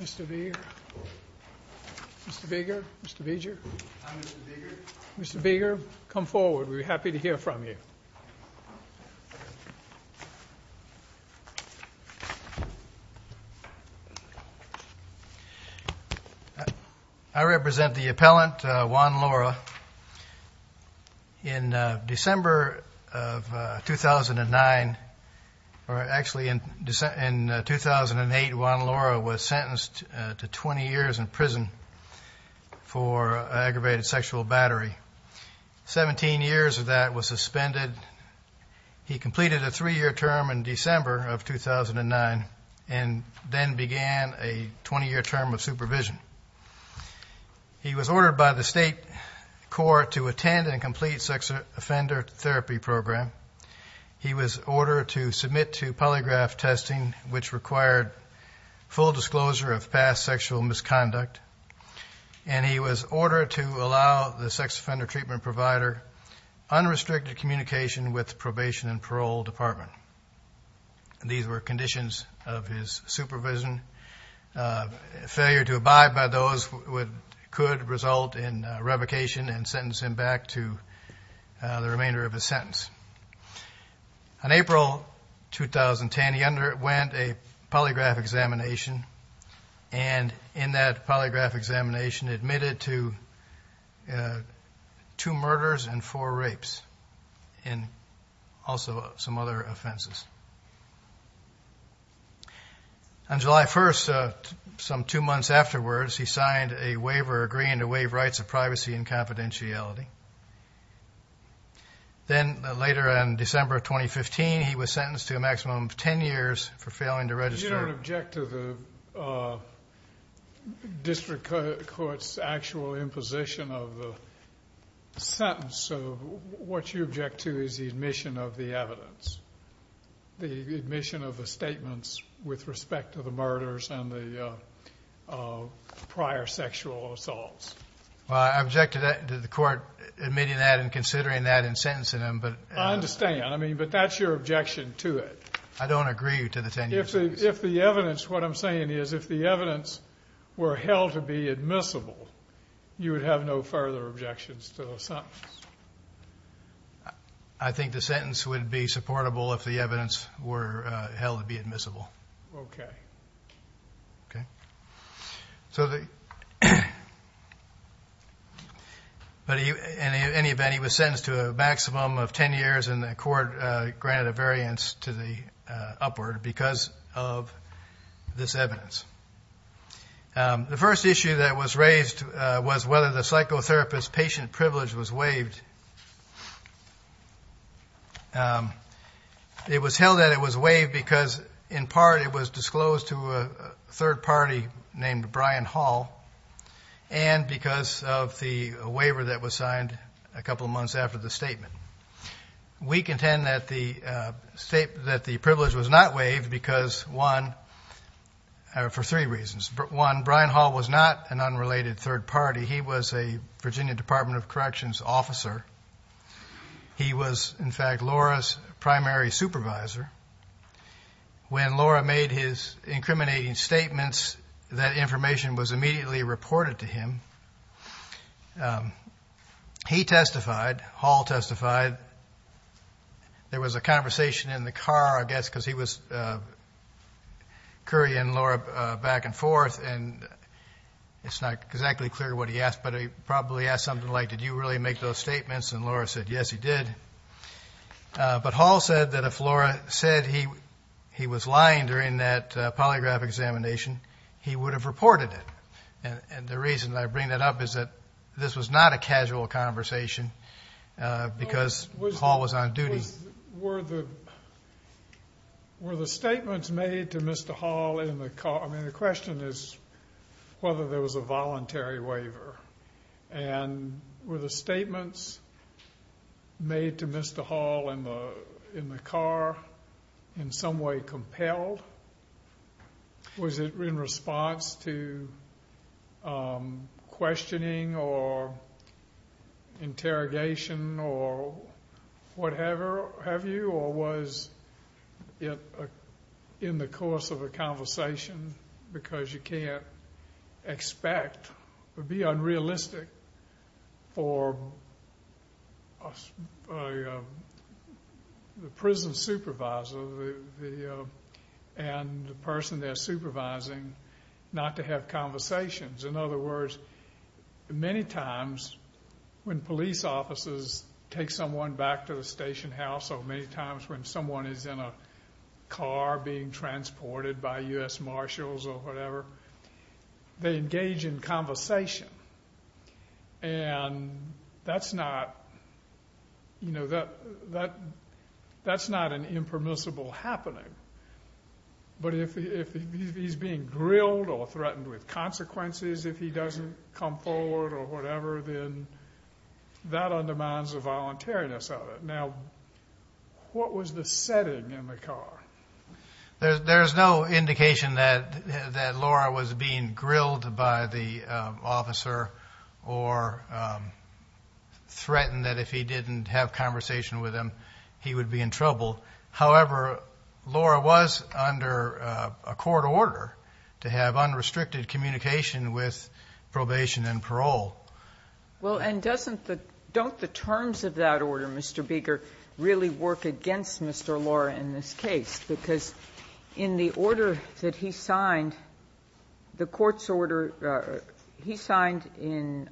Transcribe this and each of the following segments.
Mr. Beeger, Mr. Beeger, Mr. Beeger, Mr. Beeger, come forward. We're happy to hear from you. I represent the appellant, Juan Lara. In December of 2009, or actually in 2008, Juan Lara was sentenced to 20 years in prison for aggravated sexual battery. 17 years of that was suspended. He completed a three-year term in December of 2009 and then began a 20-year term of supervision. He was ordered by the state court to attend and complete sex offender therapy program. He was ordered to submit to polygraph testing, which required full disclosure of past sexual misconduct. And he was ordered to allow the sex offender treatment provider unrestricted communication with the probation and parole department. These were conditions of his supervision. Failure to abide by those could result in revocation and sentence him back to the remainder of his sentence. On April 2010, he underwent a polygraph examination and in that polygraph examination admitted to two murders and four rapes and also some other offenses. On July 1st, some two months afterwards, he signed a waiver agreeing to waive rights of privacy and confidentiality. Then later in December of 2015, he was sentenced to a maximum of 10 years for failing to register. I don't object to the district court's actual imposition of the sentence. So what you object to is the admission of the evidence, the admission of the statements with respect to the murders and the prior sexual assaults. Well, I object to the court admitting that and considering that and sentencing him, but I understand. I mean, but that's your objection to it. I don't agree to the 10 years. If the evidence, what I'm saying is if the evidence were held to be admissible, you would have no further objections to the sentence. I think the sentence would be supportable if the evidence were held to be admissible. Okay. Okay. So in any event, he was sentenced to a maximum of 10 years and the court granted a variance to the upward because of this evidence. The first issue that was raised was whether the psychotherapist patient privilege was waived. It was held that it was waived because, in part, it was disclosed to a third party named Brian Hall and because of the waiver that was signed a couple of months after the statement. We contend that the privilege was not waived because, one, for three reasons. One, Brian Hall was not an unrelated third party. He was a Virginia Department of Corrections officer. He was, in fact, Laura's primary supervisor. When Laura made his incriminating statements, that information was immediately reported to him. He testified. Hall testified. There was a conversation in the car, I guess, because he was carrying Laura back and forth, and it's not exactly clear what he asked, but he probably asked something like, did you really make those statements? And Laura said, yes, he did. But Hall said that if Laura said he was lying during that polygraph examination, he would have reported it. And the reason I bring that up is that this was not a casual conversation because Hall was on duty. Were the statements made to Mr. Hall in the car? I mean, the question is whether there was a voluntary waiver. And were the statements made to Mr. Hall in the car in some way compelled? Was it in response to questioning or interrogation or what have you? Or was it in the course of a conversation because you can't expect or be unrealistic for the prison supervisor, and the person they're supervising, not to have conversations? In other words, many times when police officers take someone back to the station house, or many times when someone is in a car being transported by U.S. Marshals or whatever, they engage in conversation. And that's not an impermissible happening. But if he's being grilled or threatened with consequences if he doesn't come forward or whatever, then that undermines the voluntariness of it. Now, what was the setting in the car? There's no indication that Laura was being grilled by the officer or threatened that if he didn't have conversation with him, he would be in trouble. However, Laura was under a court order to have unrestricted communication with probation and parole. Well, and don't the terms of that order, Mr. Beeger, really work against Mr. Laura in this case? Because in the order that he signed, the court's order he signed in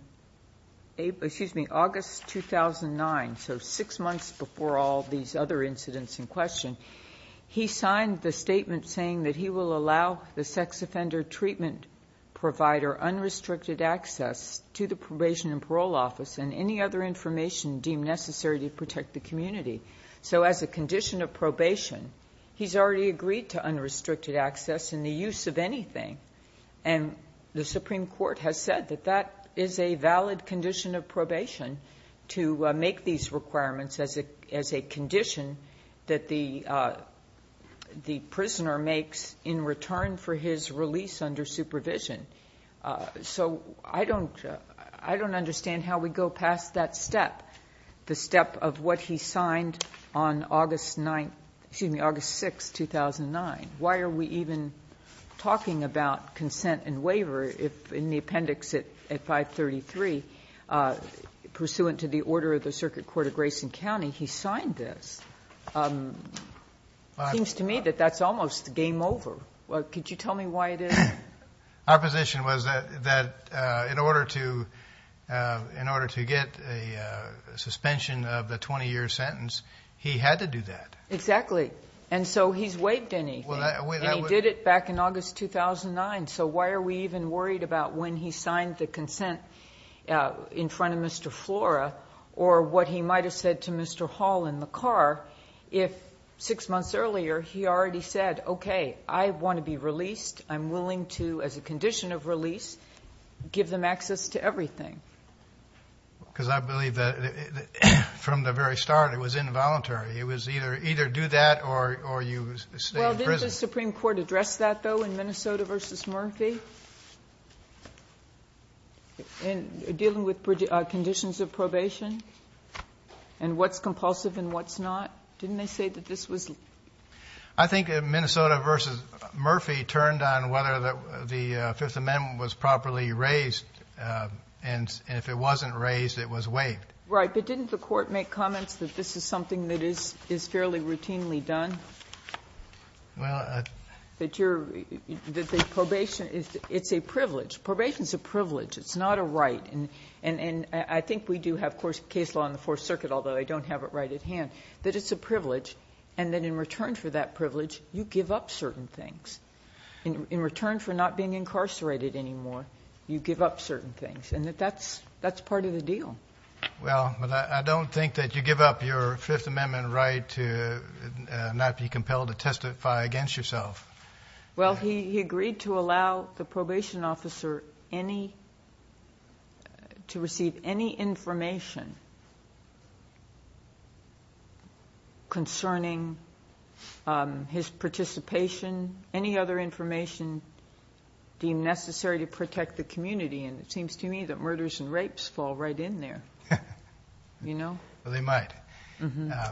August 2009, so six months before all these other incidents in question, he signed the statement saying that he will allow the sex offender treatment provider unrestricted access to the probation and parole office and any other information deemed necessary to protect the community. So as a condition of probation, he's already agreed to unrestricted access and the use of anything. And the Supreme Court has said that that is a valid condition of probation to make these requirements as a condition that the prisoner makes in return for his release under supervision. So I don't understand how we go past that step, the step of what he signed on August 6, 2009. Why are we even talking about consent and waiver if in the appendix at 533, pursuant to the order of the Circuit Court of Grayson County, he signed this? It seems to me that that's almost game over. Could you tell me why it is? Our position was that in order to get a suspension of the 20-year sentence, he had to do that. Exactly. And so he's waived anything. And he did it back in August 2009. So why are we even worried about when he signed the consent in front of Mr. Flora or what he might have said to Mr. Hall in the car if six months earlier he already said, okay, I want to be released. I'm willing to, as a condition of release, give them access to everything. Because I believe that from the very start it was involuntary. It was either do that or you stay in prison. Did the Supreme Court address that, though, in Minnesota v. Murphy? In dealing with conditions of probation and what's compulsive and what's not? Didn't they say that this was? I think Minnesota v. Murphy turned on whether the Fifth Amendment was properly raised. And if it wasn't raised, it was waived. Right. But didn't the Court make comments that this is something that is fairly routinely done? Well, I. That the probation is a privilege. Probation is a privilege. It's not a right. And I think we do have case law in the Fourth Circuit, although I don't have it right at hand, that it's a privilege and that in return for that privilege you give up certain things. In return for not being incarcerated anymore, you give up certain things. And that's part of the deal. Well, I don't think that you give up your Fifth Amendment right to not be compelled to testify against yourself. Well, he agreed to allow the probation officer any, to receive any information concerning his participation, any other information deemed necessary to protect the community. And it seems to me that murders and rapes fall right in there. You know? Well, they might.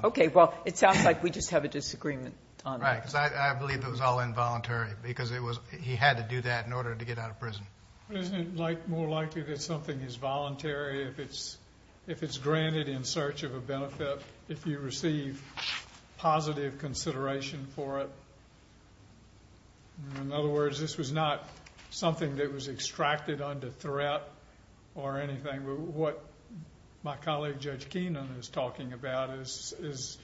Okay. Well, it sounds like we just have a disagreement on that. Right. Because I believe it was all involuntary because he had to do that in order to get out of prison. Isn't it more likely that something is voluntary if it's granted in search of a benefit, if you receive positive consideration for it? In other words, this was not something that was extracted under threat or anything. What my colleague Judge Keenan is talking about is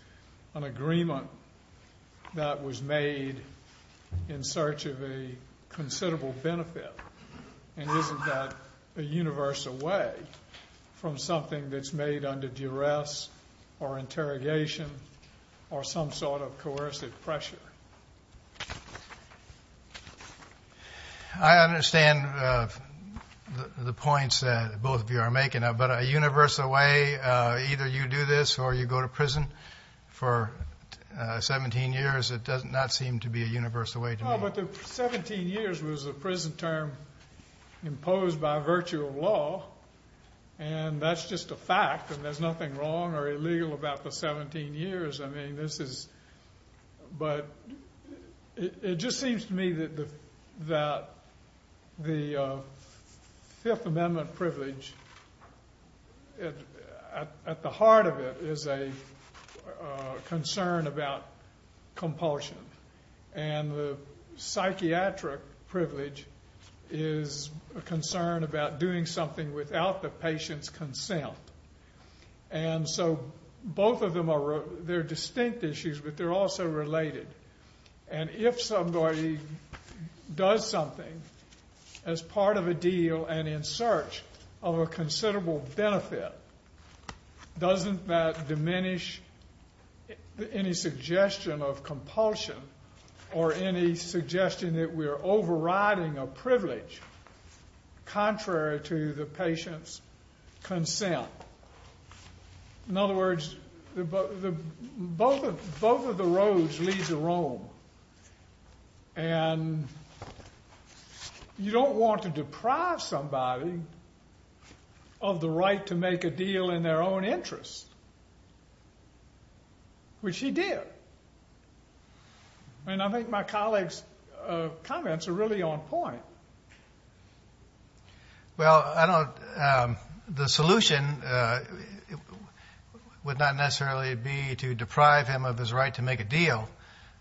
an agreement that was made in search of a considerable benefit. And isn't that a universal way from something that's made under duress or interrogation or some sort of coercive pressure? I understand the points that both of you are making. But a universal way, either you do this or you go to prison for 17 years, it does not seem to be a universal way to me. Well, but the 17 years was a prison term imposed by virtue of law. And that's just a fact, and there's nothing wrong or illegal about the 17 years. I mean, this is – but it just seems to me that the Fifth Amendment privilege, at the heart of it, is a concern about compulsion. And the psychiatric privilege is a concern about doing something without the patient's consent. And so both of them are – they're distinct issues, but they're also related. And if somebody does something as part of a deal and in search of a considerable benefit, doesn't that diminish any suggestion of compulsion or any suggestion that we are overriding a privilege contrary to the patient's consent? In other words, both of the roads lead to Rome. And you don't want to deprive somebody of the right to make a deal in their own interest, which he did. And I think my colleague's comments are really on point. Well, I don't – the solution would not necessarily be to deprive him of his right to make a deal,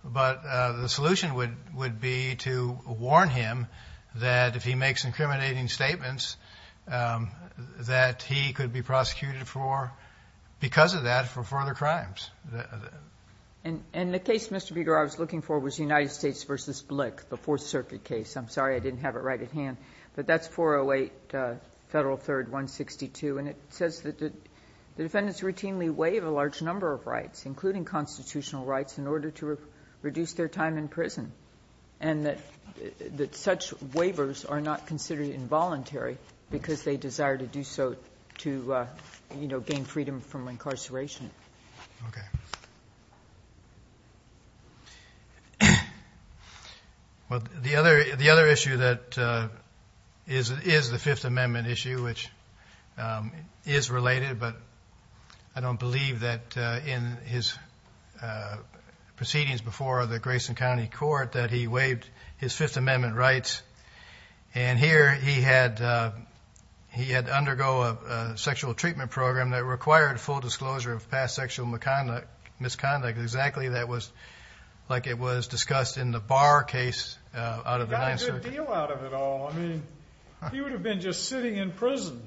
but the solution would be to warn him that if he makes incriminating statements, that he could be prosecuted for – because of that, for further crimes. And the case, Mr. Bieger, I was looking for was United States v. Glick, the Fourth Circuit case. I'm sorry, I didn't have it right at hand. But that's 408 Federal 3rd 162. And it says that the defendants routinely waive a large number of rights, including constitutional rights, in order to reduce their time in prison, and that such waivers are not considered involuntary because they desire to do so to, you know, gain freedom from incarceration. Okay. Okay. Well, the other issue that is the Fifth Amendment issue, which is related, but I don't believe that in his proceedings before the Grayson County Court that he waived his Fifth Amendment rights. And here he had to undergo a sexual treatment program that required full disclosure of past sexual misconduct, exactly like it was discussed in the Barr case out of the Ninth Circuit. He got a good deal out of it all. I mean, he would have been just sitting in prison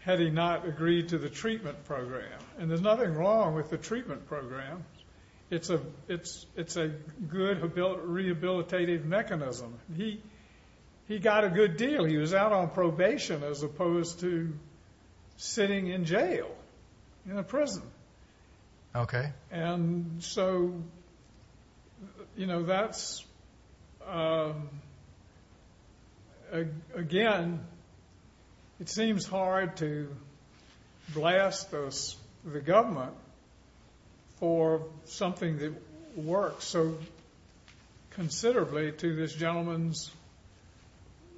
had he not agreed to the treatment program. And there's nothing wrong with the treatment program. It's a good rehabilitative mechanism. He got a good deal. He was out on probation as opposed to sitting in jail in a prison. Okay. And so, you know, that's, again, it seems hard to blast the government for something that works so considerably to this gentleman's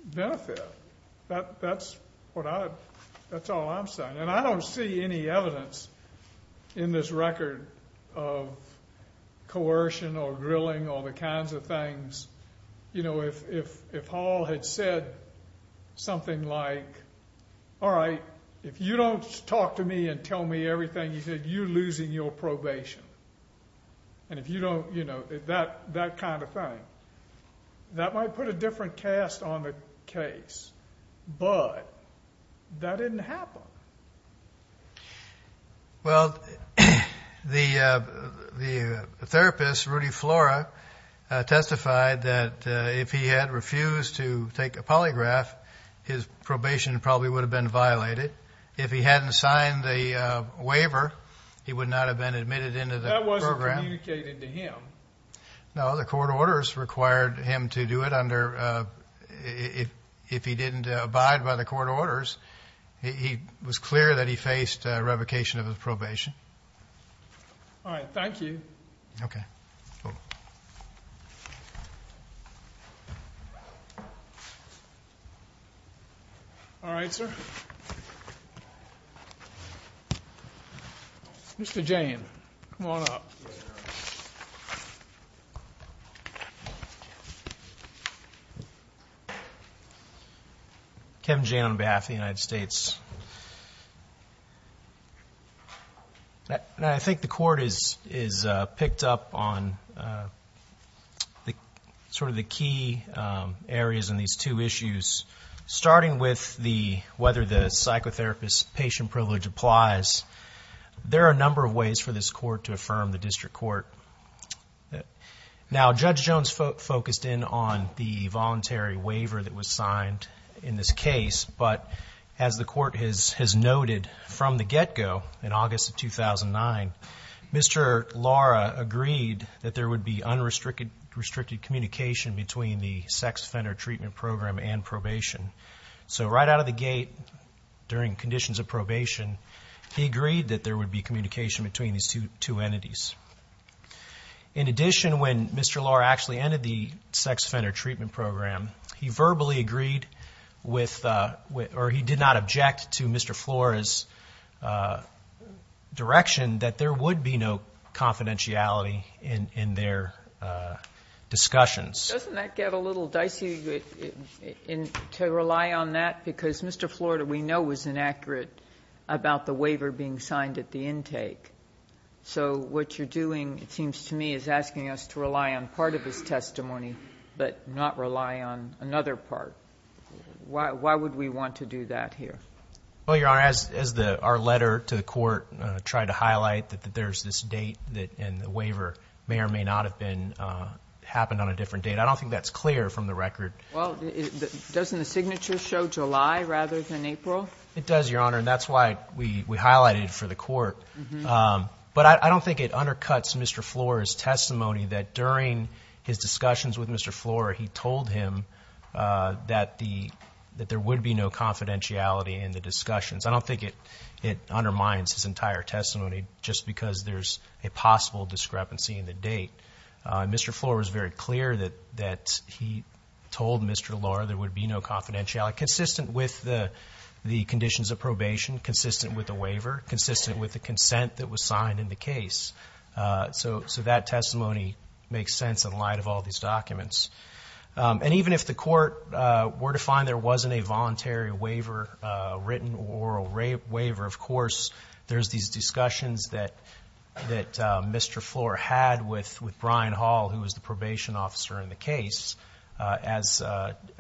benefit. That's all I'm saying. And I don't see any evidence in this record of coercion or grilling or the kinds of things, you know, if Hall had said something like, all right, if you don't talk to me and tell me everything, you're losing your probation. And if you don't, you know, that kind of thing. That might put a different cast on the case, but that didn't happen. Well, the therapist, Rudy Flora, testified that if he had refused to take a polygraph, his probation probably would have been violated. If he hadn't signed the waiver, he would not have been admitted into the program. That wasn't communicated to him. No, the court orders required him to do it. If he didn't abide by the court orders, it was clear that he faced revocation of his probation. All right. Thank you. Okay. All right, sir. Mr. Jane, come on up. Thank you. Kevin Jane on behalf of the United States. Now, I think the court has picked up on sort of the key areas in these two issues, starting with whether the psychotherapist's patient privilege applies. There are a number of ways for this court to affirm the district court. Now, Judge Jones focused in on the voluntary waiver that was signed in this case, but as the court has noted from the get-go in August of 2009, Mr. Lara agreed that there would be unrestricted communication between the sex offender treatment program and probation. So right out of the gate during conditions of probation, he agreed that there would be communication between these two entities. In addition, when Mr. Lara actually entered the sex offender treatment program, he verbally agreed with or he did not object to Mr. Flora's direction that there would be no confidentiality in their discussions. Doesn't that get a little dicey to rely on that? Because Mr. Flora, we know, was inaccurate about the waiver being signed at the intake. So what you're doing, it seems to me, is asking us to rely on part of his testimony but not rely on another part. Why would we want to do that here? Well, Your Honor, as our letter to the court tried to highlight that there's this date and the waiver may or may not have happened on a different date, I don't think that's clear from the record. Well, doesn't the signature show July rather than April? It does, Your Honor, and that's why we highlighted it for the court. But I don't think it undercuts Mr. Flora's testimony that during his discussions with Mr. Flora, he told him that there would be no confidentiality in the discussions. I don't think it undermines his entire testimony just because there's a possible discrepancy in the date. Mr. Flora was very clear that he told Mr. Lora there would be no confidentiality, consistent with the conditions of probation, consistent with the waiver, consistent with the consent that was signed in the case. So that testimony makes sense in light of all these documents. And even if the court were to find there wasn't a voluntary waiver written or a waiver, of course, there's these discussions that Mr. Flora had with Brian Hall, who was the probation officer in the case. As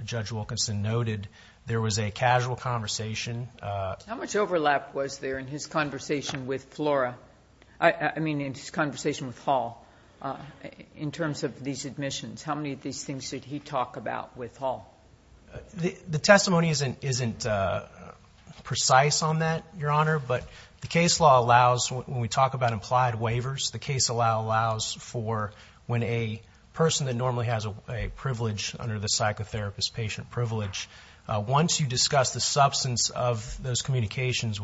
Judge Wilkinson noted, there was a casual conversation. How much overlap was there in his conversation with Flora? I mean, in his conversation with Hall in terms of these admissions? How many of these things did he talk about with Hall? The testimony isn't precise on that, Your Honor, but the case law allows when we talk about implied waivers, the case law allows for when a person that normally has a privilege under the psychotherapist patient privilege, once you discuss the substance of those communications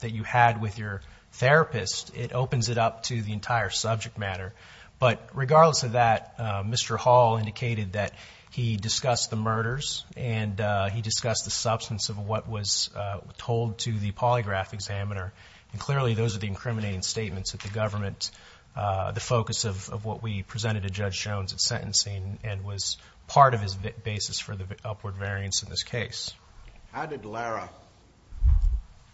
that you had with your therapist, it opens it up to the entire subject matter. But regardless of that, Mr. Hall indicated that he discussed the murders and he discussed the substance of what was told to the polygraph examiner. And clearly those are the incriminating statements that the government, the focus of what we presented to Judge Jones at sentencing, and was part of his basis for the upward variance in this case. How did Lara,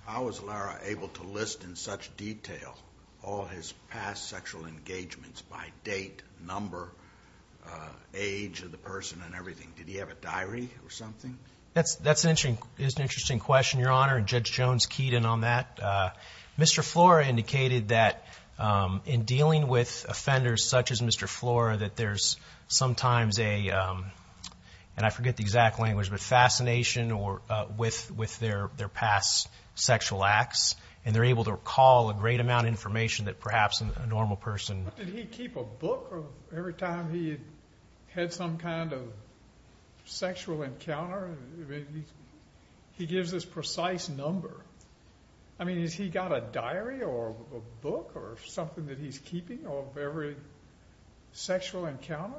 how was Lara able to list in such detail all his past sexual engagements by date, number, age of the person and everything? Did he have a diary or something? That's an interesting question, Your Honor, and Judge Jones keyed in on that. Mr. Flora indicated that in dealing with offenders such as Mr. Flora, that there's sometimes a, and I forget the exact language, but fascination with their past sexual acts, and they're able to recall a great amount of information that perhaps a normal person. But did he keep a book of every time he had some kind of sexual encounter? I mean, he gives this precise number. I mean, has he got a diary or a book or something that he's keeping of every sexual encounter?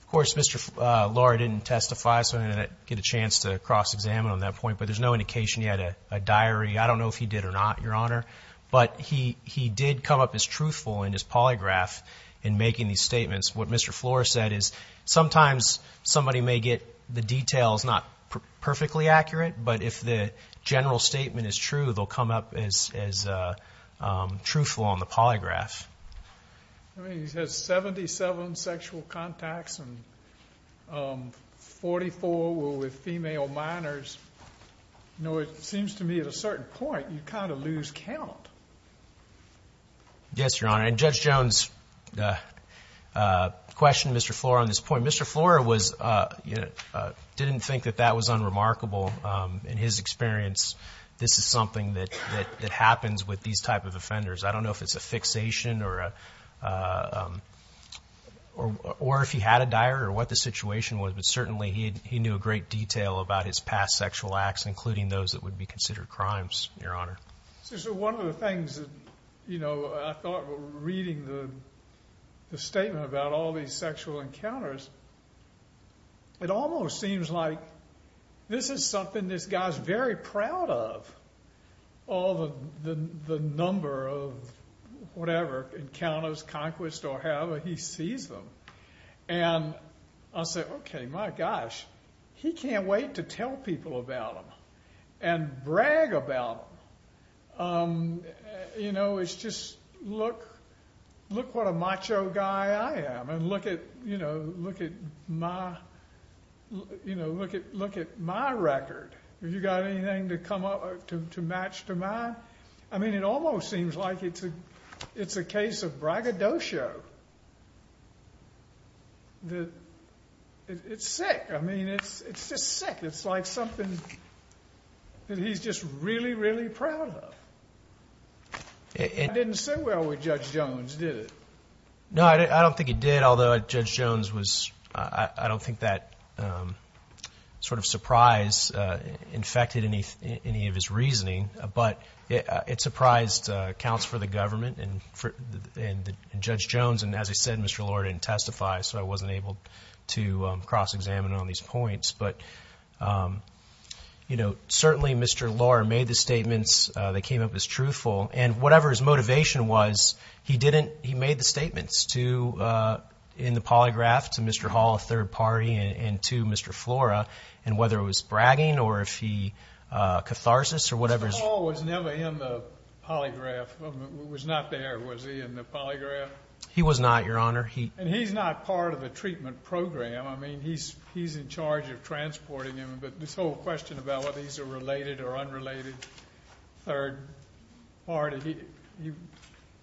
Of course, Mr. Flora didn't testify, so I didn't get a chance to cross-examine on that point. But there's no indication he had a diary. I don't know if he did or not, Your Honor. But he did come up as truthful in his polygraph in making these statements. What Mr. Flora said is sometimes somebody may get the details not perfectly accurate, but if the general statement is true, they'll come up as truthful on the polygraph. I mean, he's had 77 sexual contacts and 44 were with female minors. You know, it seems to me at a certain point you kind of lose count. Yes, Your Honor. And Judge Jones questioned Mr. Flora on this point. Mr. Flora didn't think that that was unremarkable. In his experience, this is something that happens with these type of offenders. I don't know if it's a fixation or if he had a diary or what the situation was, but certainly he knew a great detail about his past sexual acts, including those that would be considered crimes, Your Honor. So one of the things that, you know, I thought reading the statement about all these sexual encounters, it almost seems like this is something this guy's very proud of, all the number of whatever encounters, conquests, or however he sees them. And I said, okay, my gosh, he can't wait to tell people about them and brag about them. You know, it's just look what a macho guy I am and look at my record. Have you got anything to match to mine? I mean, it almost seems like it's a case of braggadocio. It's sick. I mean, it's just sick. It's like something that he's just really, really proud of. That didn't sit well with Judge Jones, did it? No, I don't think it did, although Judge Jones was – I don't think that sort of surprise infected any of his reasoning. But it surprised accounts for the government and Judge Jones. And as I said, Mr. Lohr didn't testify, so I wasn't able to cross-examine on these points. But, you know, certainly Mr. Lohr made the statements that came up as truthful. And whatever his motivation was, he didn't – he made the statements to – in the polygraph to Mr. Hall, a third party, and to Mr. Flora. And whether it was bragging or if he catharsis or whatever. Mr. Hall was never in the polygraph. He was not there. Was he in the polygraph? He was not, Your Honor. And he's not part of the treatment program. I mean, he's in charge of transporting him. But this whole question about whether he's a related or unrelated third party,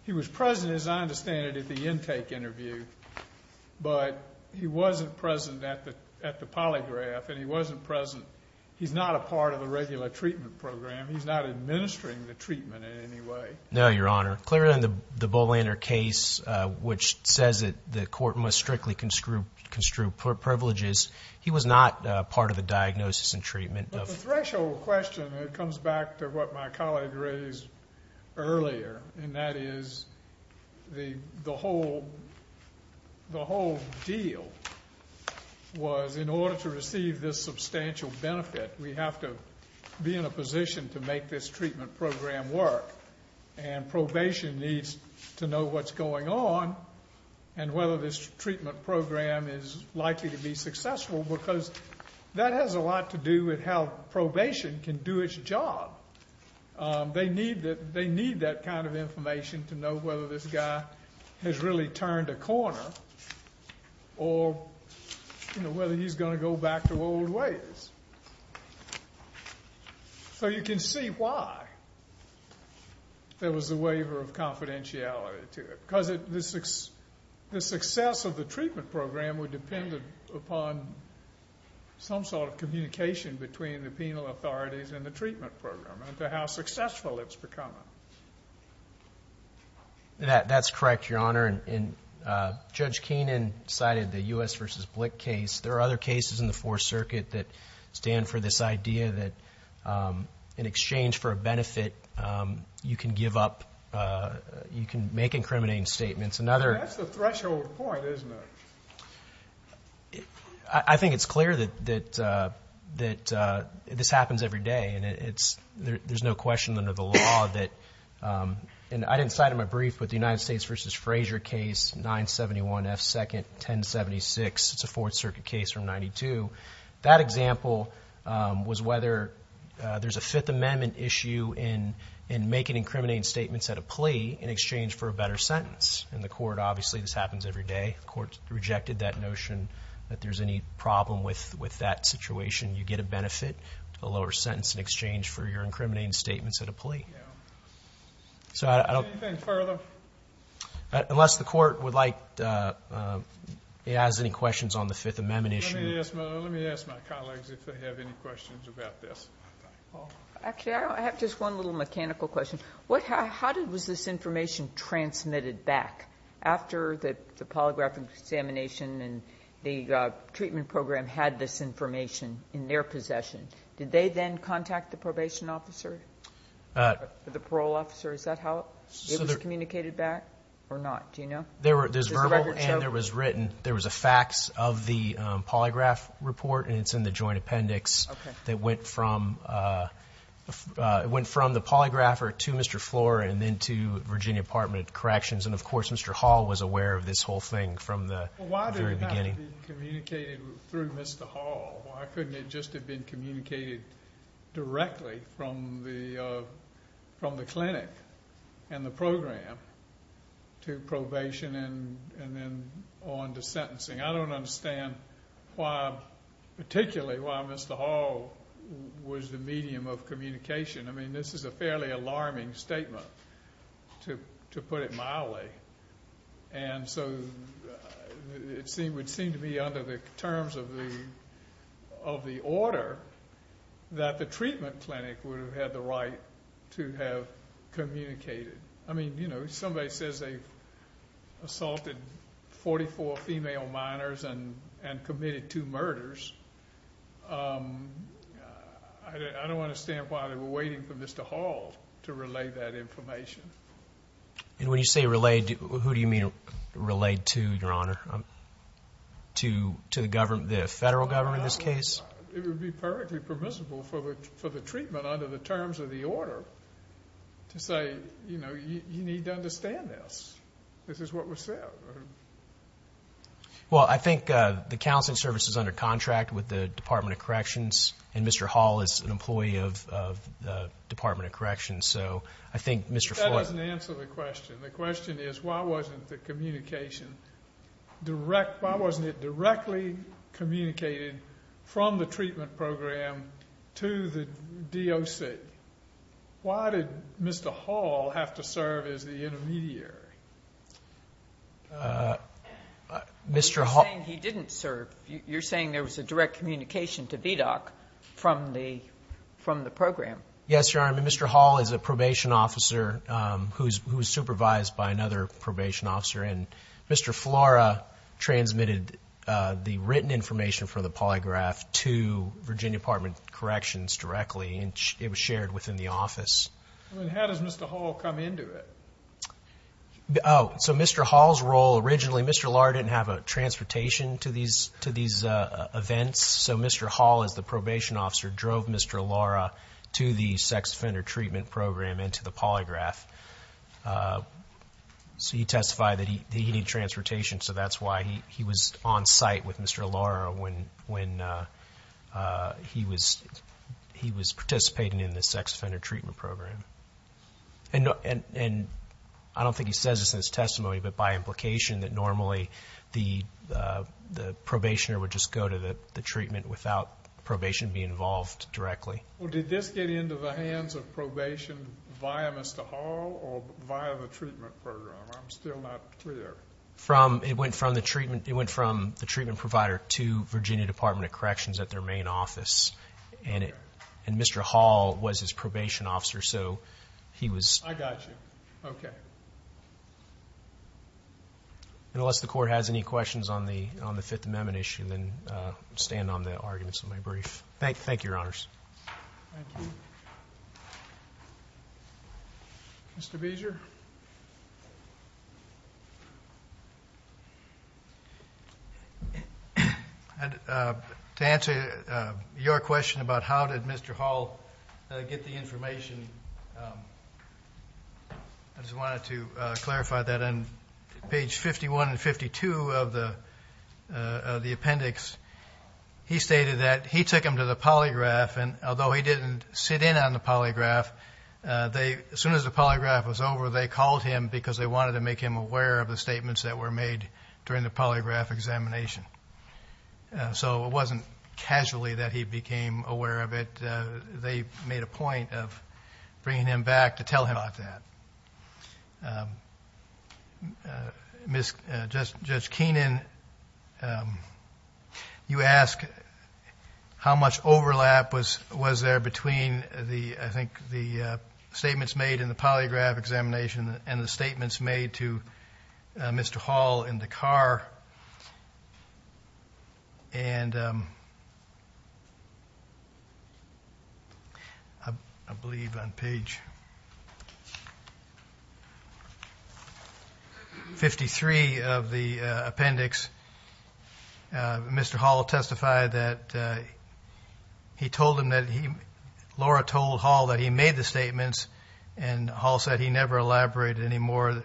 he was present, as I understand it, at the intake interview. But he wasn't present at the polygraph, and he wasn't present – he's not a part of the regular treatment program. He's not administering the treatment in any way. No, Your Honor. Clearly in the Bolander case, which says that the court must strictly construe privileges, he was not part of the diagnosis and treatment. But the threshold question, it comes back to what my colleague raised earlier, and that is the whole deal was in order to receive this substantial benefit, we have to be in a position to make this treatment program work. And probation needs to know what's going on and whether this treatment program is likely to be successful because that has a lot to do with how probation can do its job. They need that kind of information to know whether this guy has really turned a corner or whether he's going to go back to old ways. So you can see why there was a waiver of confidentiality to it because the success of the treatment program would depend upon some sort of communication between the penal authorities and the treatment program and to how successful it's becoming. That's correct, Your Honor. And Judge Keenan cited the U.S. v. Blick case. There are other cases in the Fourth Circuit that stand for this idea that in exchange for a benefit, you can give up, you can make incriminating statements. That's the threshold point, isn't it? I think it's clear that this happens every day, and there's no question under the law that, and I didn't cite in my brief, but the United States v. Frazier case, 971 F. 2nd, 1076. It's a Fourth Circuit case from 92. That example was whether there's a Fifth Amendment issue in making incriminating statements at a plea in exchange for a better sentence. In the court, obviously, this happens every day. The court rejected that notion that there's any problem with that situation. You get a benefit, a lower sentence in exchange for your incriminating statements at a plea. Anything further? Unless the court would like to ask any questions on the Fifth Amendment issue. Let me ask my colleagues if they have any questions about this. Actually, I have just one little mechanical question. How was this information transmitted back after the polygraph examination and the treatment program had this information in their possession? Did they then contact the probation officer, the parole officer? Is that how it was communicated back or not? Do you know? There's verbal and there was written. There was a fax of the polygraph report, and it's in the joint appendix. Okay. It went from the polygrapher to Mr. Flora and then to Virginia Department of Corrections. And, of course, Mr. Hall was aware of this whole thing from the very beginning. Why did it not be communicated through Mr. Hall? Why couldn't it just have been communicated directly from the clinic and the program to probation and then on to sentencing? I don't understand particularly why Mr. Hall was the medium of communication. I mean, this is a fairly alarming statement, to put it mildly. And so it would seem to be under the terms of the order that the treatment clinic would have had the right to have communicated. I mean, you know, somebody says they've assaulted 44 female minors and committed two murders. I don't understand why they were waiting for Mr. Hall to relay that information. And when you say relayed, who do you mean relayed to, Your Honor? To the federal government in this case? It would be perfectly permissible for the treatment under the terms of the order to say, you know, you need to understand this. This is what was said. Well, I think the counseling service is under contract with the Department of Corrections, and Mr. Hall is an employee of the Department of Corrections. So I think Mr. Flora— That doesn't answer the question. The question is why wasn't the communication direct— why wasn't it directly communicated from the treatment program to the DOC? Why did Mr. Hall have to serve as the intermediary? You're saying he didn't serve. You're saying there was a direct communication to VDOC from the program. Yes, Your Honor. I mean, Mr. Hall is a probation officer who is supervised by another probation officer, and Mr. Flora transmitted the written information from the polygraph to Virginia Department of Corrections directly, and it was shared within the office. How does Mr. Hall come into it? So Mr. Hall's role originally—Mr. Lora didn't have transportation to these events, so Mr. Hall, as the probation officer, drove Mr. Lora to the sex offender treatment program and to the polygraph. So he testified that he needed transportation, so that's why he was on site with Mr. Lora when he was participating in the sex offender treatment program. And I don't think he says this in his testimony, but by implication that normally the probationer would just go to the treatment without probation being involved directly. Well, did this get into the hands of probation via Mr. Hall or via the treatment program? I'm still not clear. It went from the treatment provider to Virginia Department of Corrections at their main office, and Mr. Hall was his probation officer, so he was— I got you. Okay. Unless the Court has any questions on the Fifth Amendment issue, then I'll stand on the arguments of my brief. Thank you, Your Honors. Thank you. Mr. Beezer? To answer your question about how did Mr. Hall get the information, I just wanted to clarify that on page 51 and 52 of the appendix, he stated that he took him to the polygraph, and although he didn't sit in on the polygraph, as soon as the polygraph was over, they called him because they wanted to make him aware of the statements that were made during the polygraph examination. So it wasn't casually that he became aware of it. They made a point of bringing him back to tell him about that. Judge Keenan, you asked how much overlap was there between, I think, the statements made in the polygraph examination and the statements made to Mr. Hall in the car. And I believe on page 53 of the appendix, Mr. Hall testified that he told him that he— Laura told Hall that he made the statements, and Hall said he never elaborated any more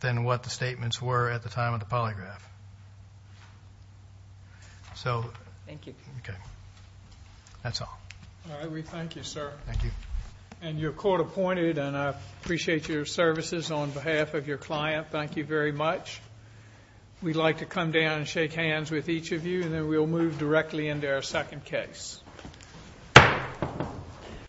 than what the statements were at the time of the polygraph. So— Thank you. Okay. That's all. All right. We thank you, sir. Thank you. And you're court-appointed, and I appreciate your services on behalf of your client. Thank you very much. We'd like to come down and shake hands with each of you, and then we'll move directly into our second case.